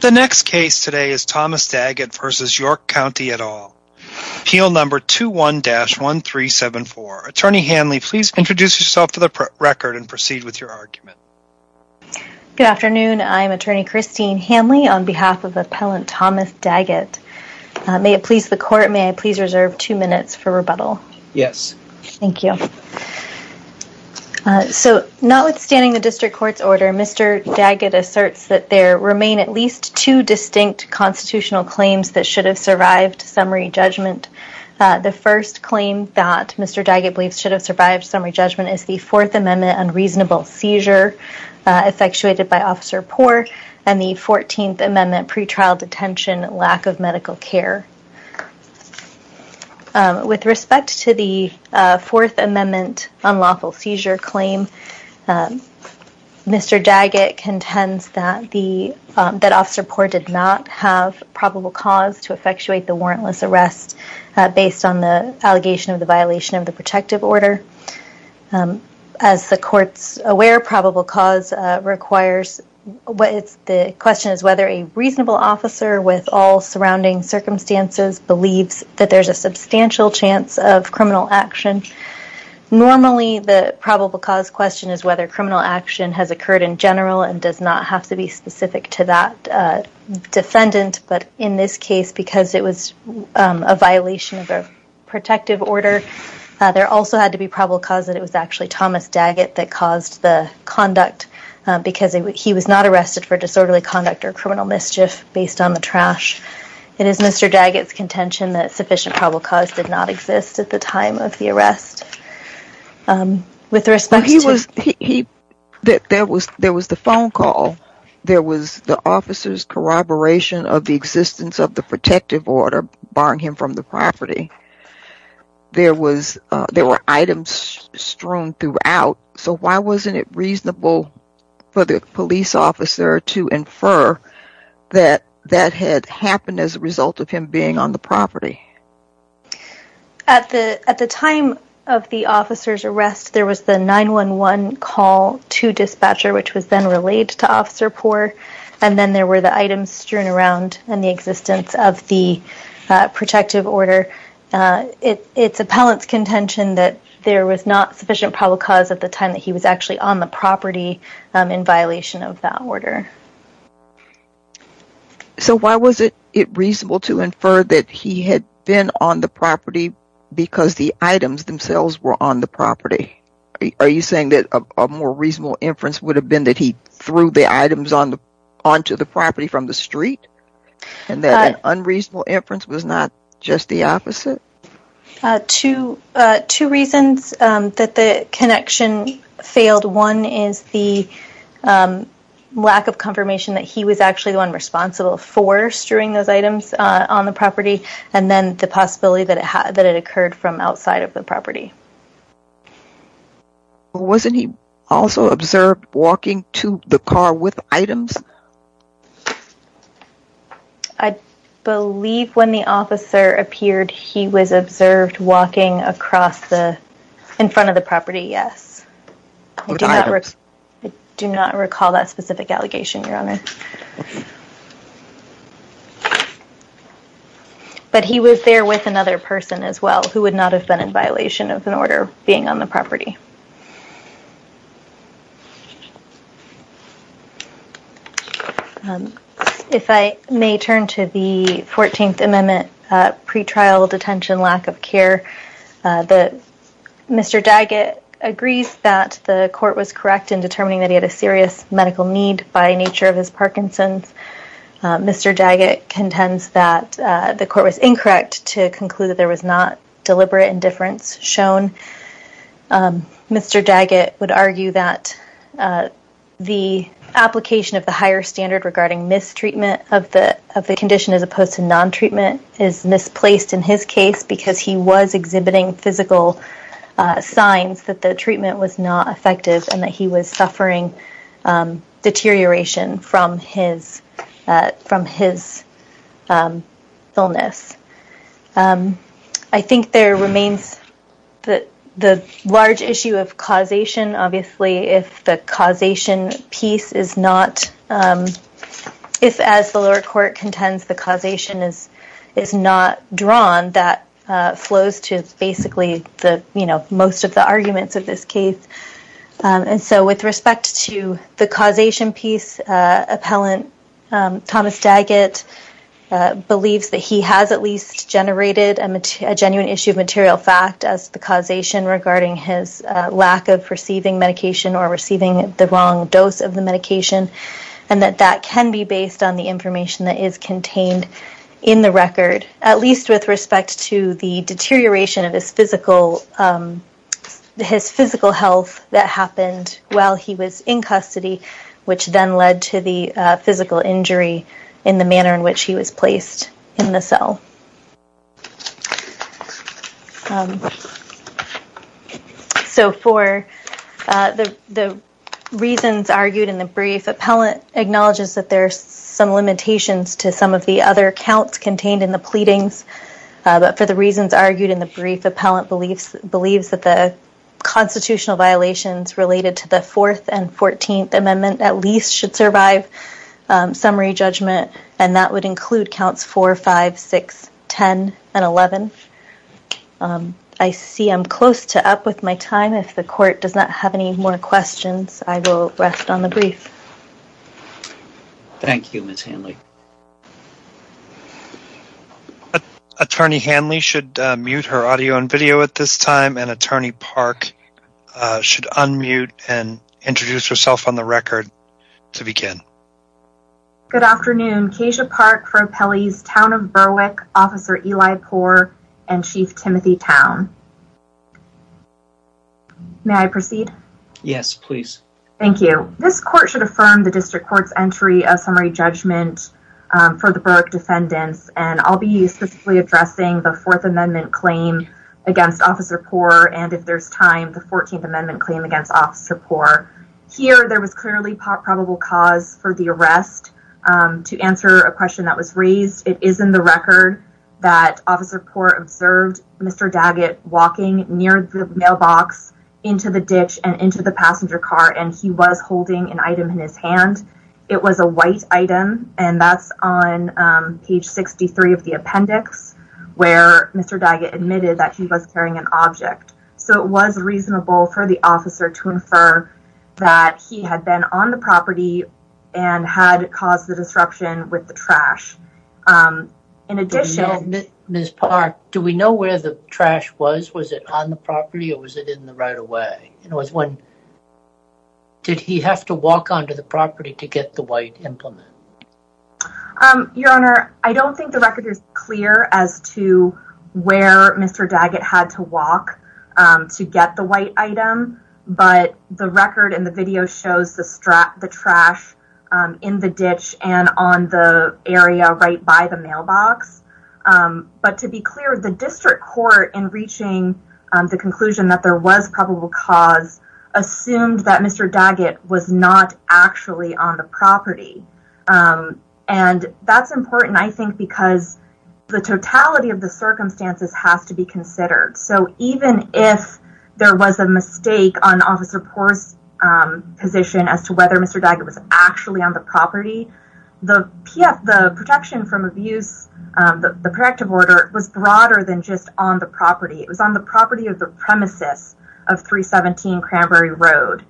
The next case today is Thomas Daggett v. York County et al. Appeal number 21-1374. Attorney Hanley, please introduce yourself for the record and proceed with your argument. Good afternoon. I am Attorney Christine Hanley on behalf of Appellant Thomas Daggett. May it please the Court, may I please reserve two minutes for rebuttal? Yes. Thank you. So notwithstanding the District Court's order, Mr. Daggett asserts that there remain at least two distinct constitutional claims that should have survived summary judgment. The first claim that Mr. Daggett believes should have survived summary judgment is the Fourth Amendment unreasonable seizure effectuated by Officer Poore and the Fourteenth Amendment pretrial detention lack of medical care. With respect to the Fourth Amendment unlawful seizure claim, Mr. Daggett contends that Officer Poore did not have probable cause to effectuate the warrantless arrest based on the allegation of the violation of the protective order. As the Court's aware, probable cause requires, the question is whether a reasonable officer with all surrounding circumstances believes that there's a substantial chance of criminal action. Normally, the probable cause question is whether criminal action has occurred in general and does not have to be specific to that defendant, but in this case, because it was a violation of a protective order, there also had to be probable cause that it was actually Thomas Daggett that caused the conduct, because he was not arrested for disorderly conduct or criminal mischief based on the trash. It is Mr. Daggett's contention that sufficient probable cause did not exist at the time of the arrest. There was the phone call. There was the officer's corroboration of the existence of the protective order barring him from the property. There were items strewn throughout, so why wasn't it reasonable for the police officer to infer that that had happened as a result of him being on the property? At the time of the officer's arrest, there was the 911 call to dispatcher, which was then relayed to Officer Poore, and then there were the items strewn around and the existence of the protective order. It's appellant's contention that there was not sufficient probable cause at the time that he was actually on the property in violation of that order. So why was it reasonable to infer that he had been on the property because the items themselves were on the property? Are you saying that a more reasonable inference would have been that he threw the items onto the property from the street? And that an unreasonable inference was not just the opposite? Two reasons that the connection failed. One is the lack of confirmation that he was actually the one responsible for strewing those items on the property, and then the possibility that it occurred from outside of the property. Wasn't he also observed walking to the car with items? I believe when the officer appeared, he was observed walking across the, in front of the property, yes. With items? I do not recall that specific allegation, Your Honor. But he was there with another person as well, who would not have been in violation of an order being on the property. If I may turn to the 14th Amendment, pretrial detention, lack of care. Mr. Daggett agrees that the court was correct in determining that he had a serious medical need by nature of his body. Mr. Daggett contends that the court was incorrect to conclude that there was not deliberate indifference shown. Mr. Daggett would argue that the application of the higher standard regarding mistreatment of the condition as opposed to non-treatment is misplaced in his case because he was exhibiting physical signs that the treatment was not effective and that he was suffering deterioration from his illness. I think there remains the large issue of causation. Obviously, if the causation piece is not, if as the lower court contends the causation is not drawn, that flows to basically most of the arguments of this case. And so with respect to the causation piece, appellant Thomas Daggett believes that he has at least generated a genuine issue of material fact as the causation regarding his lack of receiving medication or receiving the wrong dose of the medication and that that can be based on the information that is contained in the record, at least with respect to the deterioration of his physical health that happened while he was in custody, which then led to the physical injury in the manner in which he was placed in the cell. So for the reasons argued in the brief, appellant acknowledges that there are some limitations to some of the other counts contained in the pleadings, but for the reasons argued in the brief, appellant believes that the constitutional violations related to the 4th and 14th Amendment at least should survive summary judgment and that would include counts 4, 5, 6, 10, and 11. I see I'm close to up with my time. If the court does not have any more questions, I will rest on the brief. Thank you, Ms. Hanley. Attorney Hanley should mute her audio and video at this time, and Attorney Park should unmute and introduce herself on the record to begin. Good afternoon. Kasia Park for appellees Town of Berwick, Officer Eli Poore, and Chief Timothy Town. May I proceed? Yes, please. Thank you. This court should affirm the district court's entry of summary judgment for the Berwick defendants, and I'll be specifically addressing the 4th Amendment claim against Officer Poore, and if there's time, the 14th Amendment claim against Officer Poore. Here, there was clearly probable cause for the arrest. To answer a question that was raised, it is in the record that Officer Poore observed Mr. Daggett walking near the mailbox into the ditch and into the passenger car, and he was holding an item in his hand. It was a white item, and that's on page 63 of the appendix, where Mr. Daggett admitted that he was carrying an object. So, it was reasonable for the officer to infer that he had been on the property and had caused the disruption with the trash. In addition... Ms. Park, do we know where the trash was? Was it on the property, or was it in the right-of-way? Did he have to walk onto the property to get the white implement? Your Honor, I don't think the record is clear as to where Mr. Daggett had to walk to get the white item, but the record and the video shows the trash in the ditch and on the area right by the mailbox. But to be clear, the district court, in reaching the conclusion that there was probable cause, assumed that Mr. Daggett was not actually on the property. And that's important, I think, because the totality of the circumstances has to be considered. So, even if there was a mistake on Officer Poore's position as to whether Mr. Daggett was actually on the property, the protection from abuse, the protective order, was broader than just on the property. It was on the property of the premises of 317 Cranberry Road.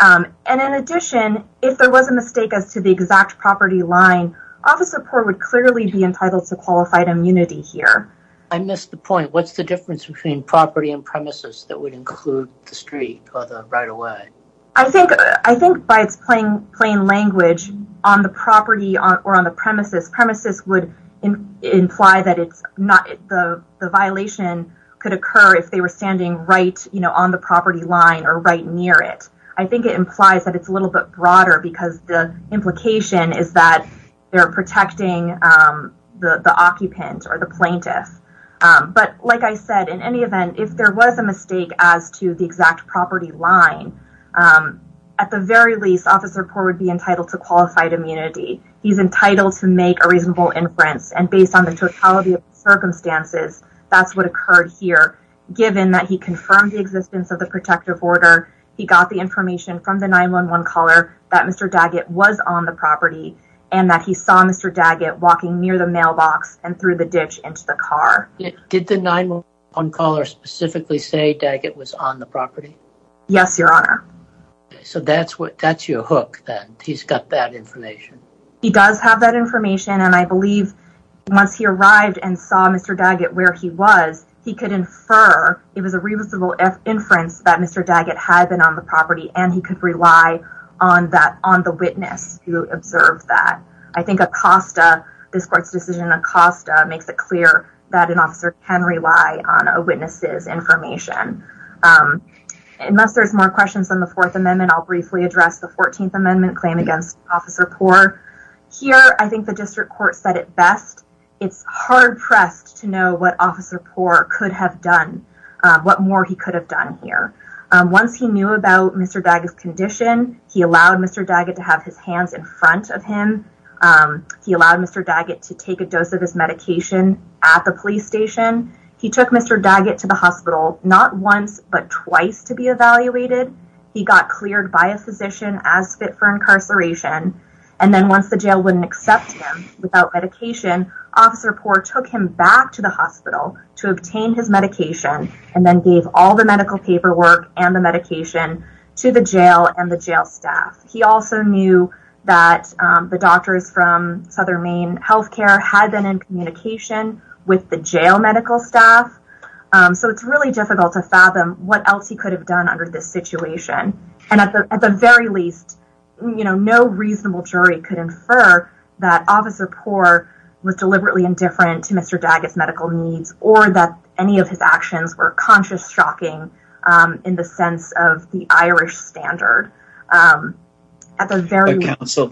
And in addition, if there was a mistake as to the exact property line, Officer Poore would clearly be entitled to qualified immunity here. I missed the point. What's the difference between property and premises that would include the street or the right-of-way? I think by its plain language, on the property or on the premises, premises would imply that the violation could occur if they were standing right on the property line or right near it. I think it implies that it's a little bit broader because the implication is that they're protecting the occupant or the plaintiff. But like I said, in any event, if there was a mistake as to the exact property line, at the very least, Officer Poore would be entitled to qualified immunity. He's entitled to make a reasonable inference. And based on the totality of the circumstances, that's what occurred here. Given that he confirmed the existence of the protective order, he got the information from the 911 caller that Mr. Daggett was on the property and that he saw Mr. Daggett walking near the mailbox and through the ditch into the car. Did the 911 caller specifically say Daggett was on the property? Yes, Your Honor. So that's your hook, that he's got that information. He does have that information, and I believe once he arrived and saw Mr. Daggett where he was, he could infer it was a reasonable inference that Mr. Daggett had been on the property and he could rely on the witness who observed that. I think Acosta, this court's decision in Acosta, makes it clear that an officer can rely on a witness's information. Unless there's more questions on the Fourth Amendment, I'll briefly address the Fourteenth Amendment claim against Officer Poore. Here, I think the district court said it best. It's hard-pressed to know what Officer Poore could have done, what more he could have done here. Once he knew about Mr. Daggett's condition, he allowed Mr. Daggett to have his hands in front of him. He allowed Mr. Daggett to take a dose of his medication at the police station. He took Mr. Daggett to the hospital, not once but twice to be evaluated. He got cleared by a physician as fit for incarceration. And then once the jail wouldn't accept him without medication, Officer Poore took him back to the hospital to obtain his medication and then gave all the medical paperwork and the medication to the jail and the jail staff. He also knew that the doctors from Southern Maine Health Care had been in communication with the jail medical staff. So it's really difficult to fathom what else he could have done under this situation. And at the very least, no reasonable jury could infer that Officer Poore was deliberately indifferent to Mr. Daggett's medical needs or that any of his actions were conscious shocking in the sense of the Irish standard. Counsel,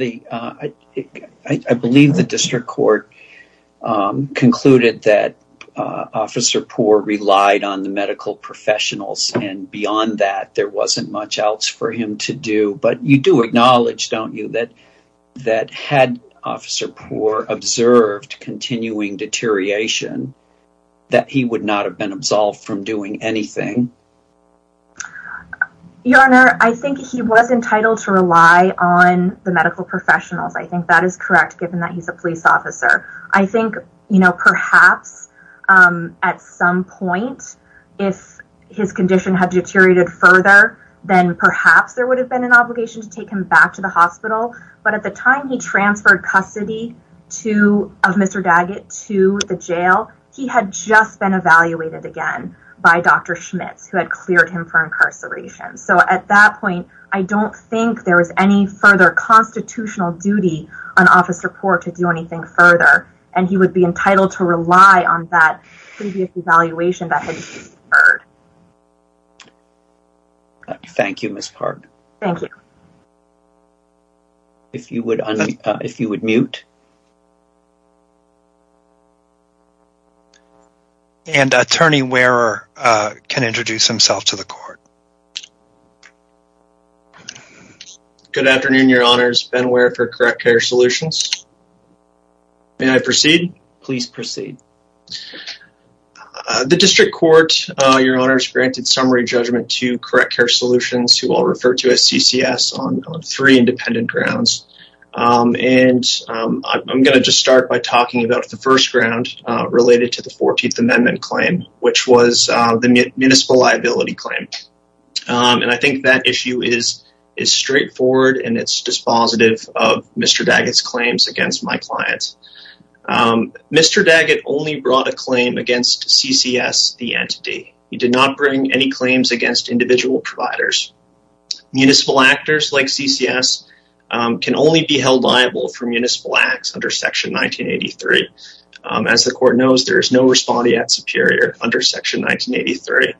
I believe the district court concluded that Officer Poore relied on the medical professionals. And beyond that, there wasn't much else for him to do. But you do acknowledge, don't you, that that had Officer Poore observed continuing deterioration, that he would not have been absolved from doing anything? Your Honor, I think he was entitled to rely on the medical professionals. I think that is correct, given that he's a police officer. I think, you know, perhaps at some point, if his condition had deteriorated further, then perhaps there would have been an obligation to take him back to the hospital. But at the time he transferred custody of Mr. Daggett to the jail, he had just been evaluated again by Dr. Schmitz, who had cleared him for incarceration. So at that point, I don't think there is any further constitutional duty on Officer Poore to do anything further. And he would be entitled to rely on that previous evaluation that had been deferred. Thank you, Ms. Park. Thank you. If you would unmute. And Attorney Wehrer can introduce himself to the court. Good afternoon, Your Honors. Ben Wehrer for Correct Care Solutions. May I proceed? Please proceed. The District Court, Your Honors, granted summary judgment to Correct Care Solutions, who I'll refer to as CCS, on three independent grounds. And I'm going to just start by talking about the first ground related to the 14th Amendment claim, which was the municipal liability claim. And I think that issue is straightforward, and it's dispositive of Mr. Daggett's claims against my client. Mr. Daggett only brought a claim against CCS, the entity. He did not bring any claims against individual providers. Municipal actors like CCS can only be held liable for municipal acts under Section 1983. As the court knows, there is no respondeat superior under Section 1983.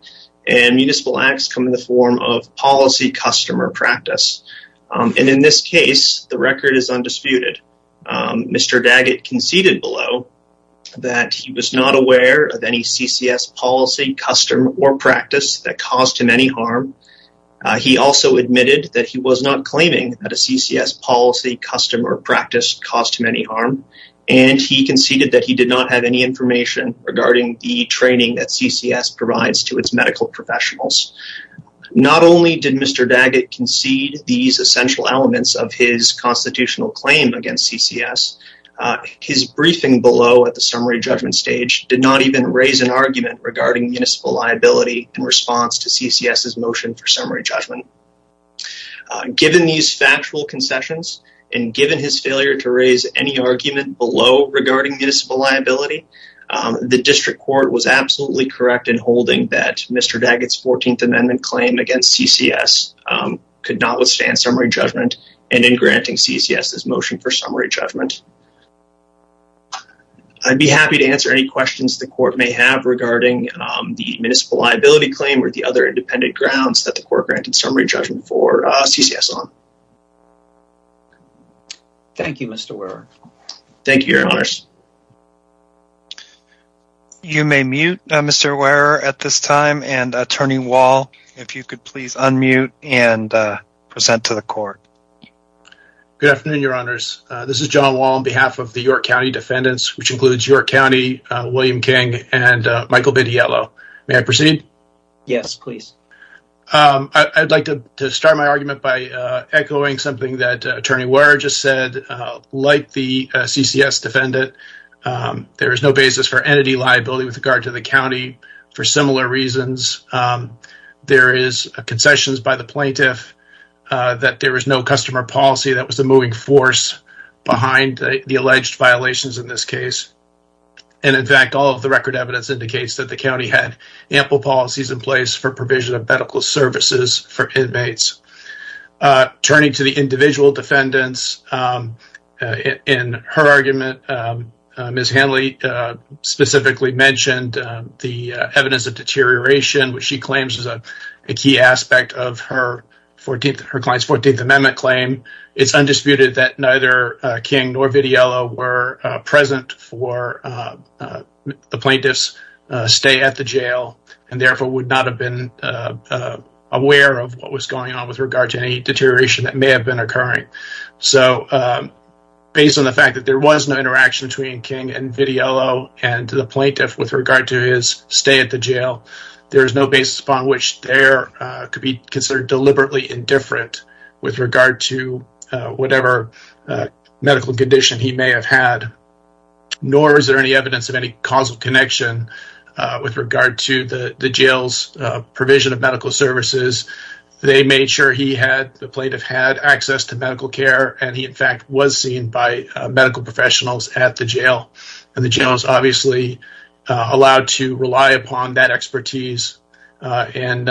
And municipal acts come in the form of policy, custom, or practice. And in this case, the record is undisputed. Mr. Daggett conceded below that he was not aware of any CCS policy, custom, or practice that caused him any harm. He also admitted that he was not claiming that a CCS policy, custom, or practice caused him any harm. And he conceded that he did not have any information regarding the training that CCS provides to its medical professionals. Not only did Mr. Daggett concede these essential elements of his constitutional claim against CCS, his briefing below at the summary judgment stage did not even raise an argument regarding municipal liability in response to CCS's motion for summary judgment. Given these factual concessions, and given his failure to raise any argument below regarding municipal liability, the district court was absolutely correct in holding that Mr. Daggett's 14th Amendment claim against CCS could not withstand summary judgment, and in granting CCS's motion for summary judgment. I'd be happy to answer any questions the court may have regarding the municipal liability claim, or the other independent grounds that the court granted summary judgment for CCS on. Thank you, Mr. Wehrer. Thank you, Your Honors. You may mute, Mr. Wehrer, at this time, and Attorney Wall, if you could please unmute and present to the court. Good afternoon, Your Honors. This is John Wall on behalf of the York County defendants, which includes York County, William King, and Michael Bidiello. May I proceed? Yes, please. I'd like to start my argument by echoing something that Attorney Wehrer just said. Like the CCS defendant, there is no basis for entity liability with regard to the county for similar reasons. There is concessions by the plaintiff, that there is no customer policy that was the moving force behind the alleged violations in this case. And in fact, all of the record evidence indicates that the county had ample policies in place for provision of medical services for inmates. Turning to the individual defendants, in her argument, Ms. Hanley specifically mentioned the evidence of deterioration, which she claims is a key aspect of her client's 14th Amendment claim. It's undisputed that neither King nor Bidiello were present for the plaintiff's stay at the jail, and therefore would not have been aware of what was going on with regard to any deterioration that may have been occurring. So, based on the fact that there was no interaction between King and Bidiello and the plaintiff with regard to his stay at the jail, there is no basis upon which there could be considered deliberately indifferent with regard to whatever medical condition he may have had, nor is there any evidence of any causal connection with regard to the jail's provision of medical services. They made sure the plaintiff had access to medical care, and he in fact was seen by medical professionals at the jail. And the jail is obviously allowed to rely upon that expertise in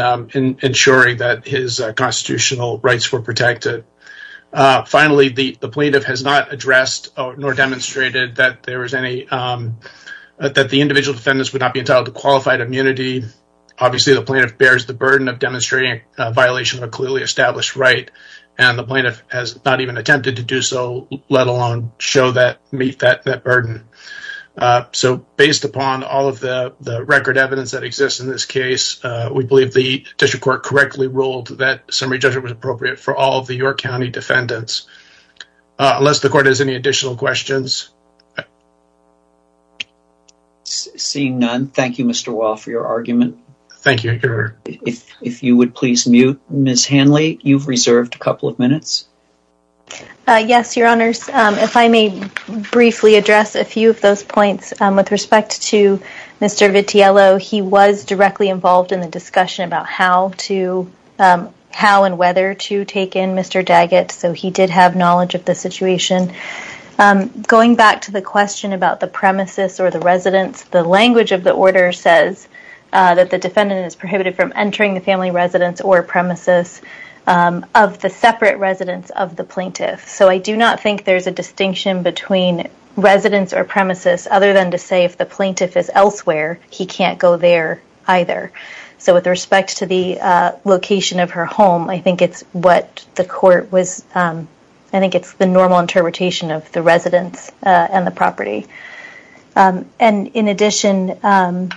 ensuring that his constitutional rights were protected. Finally, the plaintiff has not addressed nor demonstrated that the individual defendants would not be entitled to qualified immunity. Obviously, the plaintiff bears the burden of demonstrating a violation of a clearly established right, and the plaintiff has not even attempted to do so, let alone meet that burden. So, based upon all of the record evidence that exists in this case, we believe the District Court correctly ruled that summary judgment was appropriate for all of the York County defendants. Unless the Court has any additional questions? Seeing none, thank you, Mr. Wall, for your argument. Thank you. If you would please mute. Ms. Hanley, you've reserved a couple of minutes. Yes, Your Honors. If I may briefly address a few of those points. With respect to Mr. Vitiello, he was directly involved in the discussion about how and whether to take in Mr. Daggett, so he did have knowledge of the situation. Going back to the question about the premises or the residence, the language of the order says that the defendant is prohibited from entering the family residence or premises of the separate residence of the plaintiff. So, I do not think there's a distinction between residence or premises, other than to say if the plaintiff is elsewhere, he can't go there either. So, with respect to the location of her home, I think it's the normal interpretation of the residence and the property. In addition, I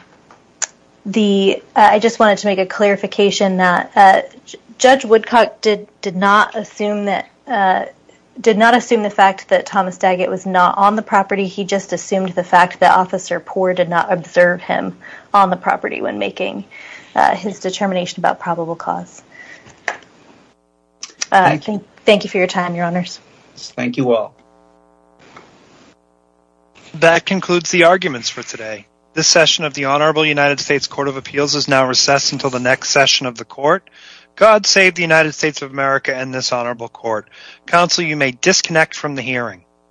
just wanted to make a clarification that Judge Woodcock did not assume the fact that Thomas Daggett was not on the property, he just assumed the fact that Officer Poore did not observe him on the property when making his determination about probable cause. Thank you for your time, Your Honors. Thank you all. That concludes the arguments for today. This session of the Honorable United States Court of Appeals is now recessed until the next session of the Court. God save the United States of America and this Honorable Court. Counsel, you may disconnect from the hearing.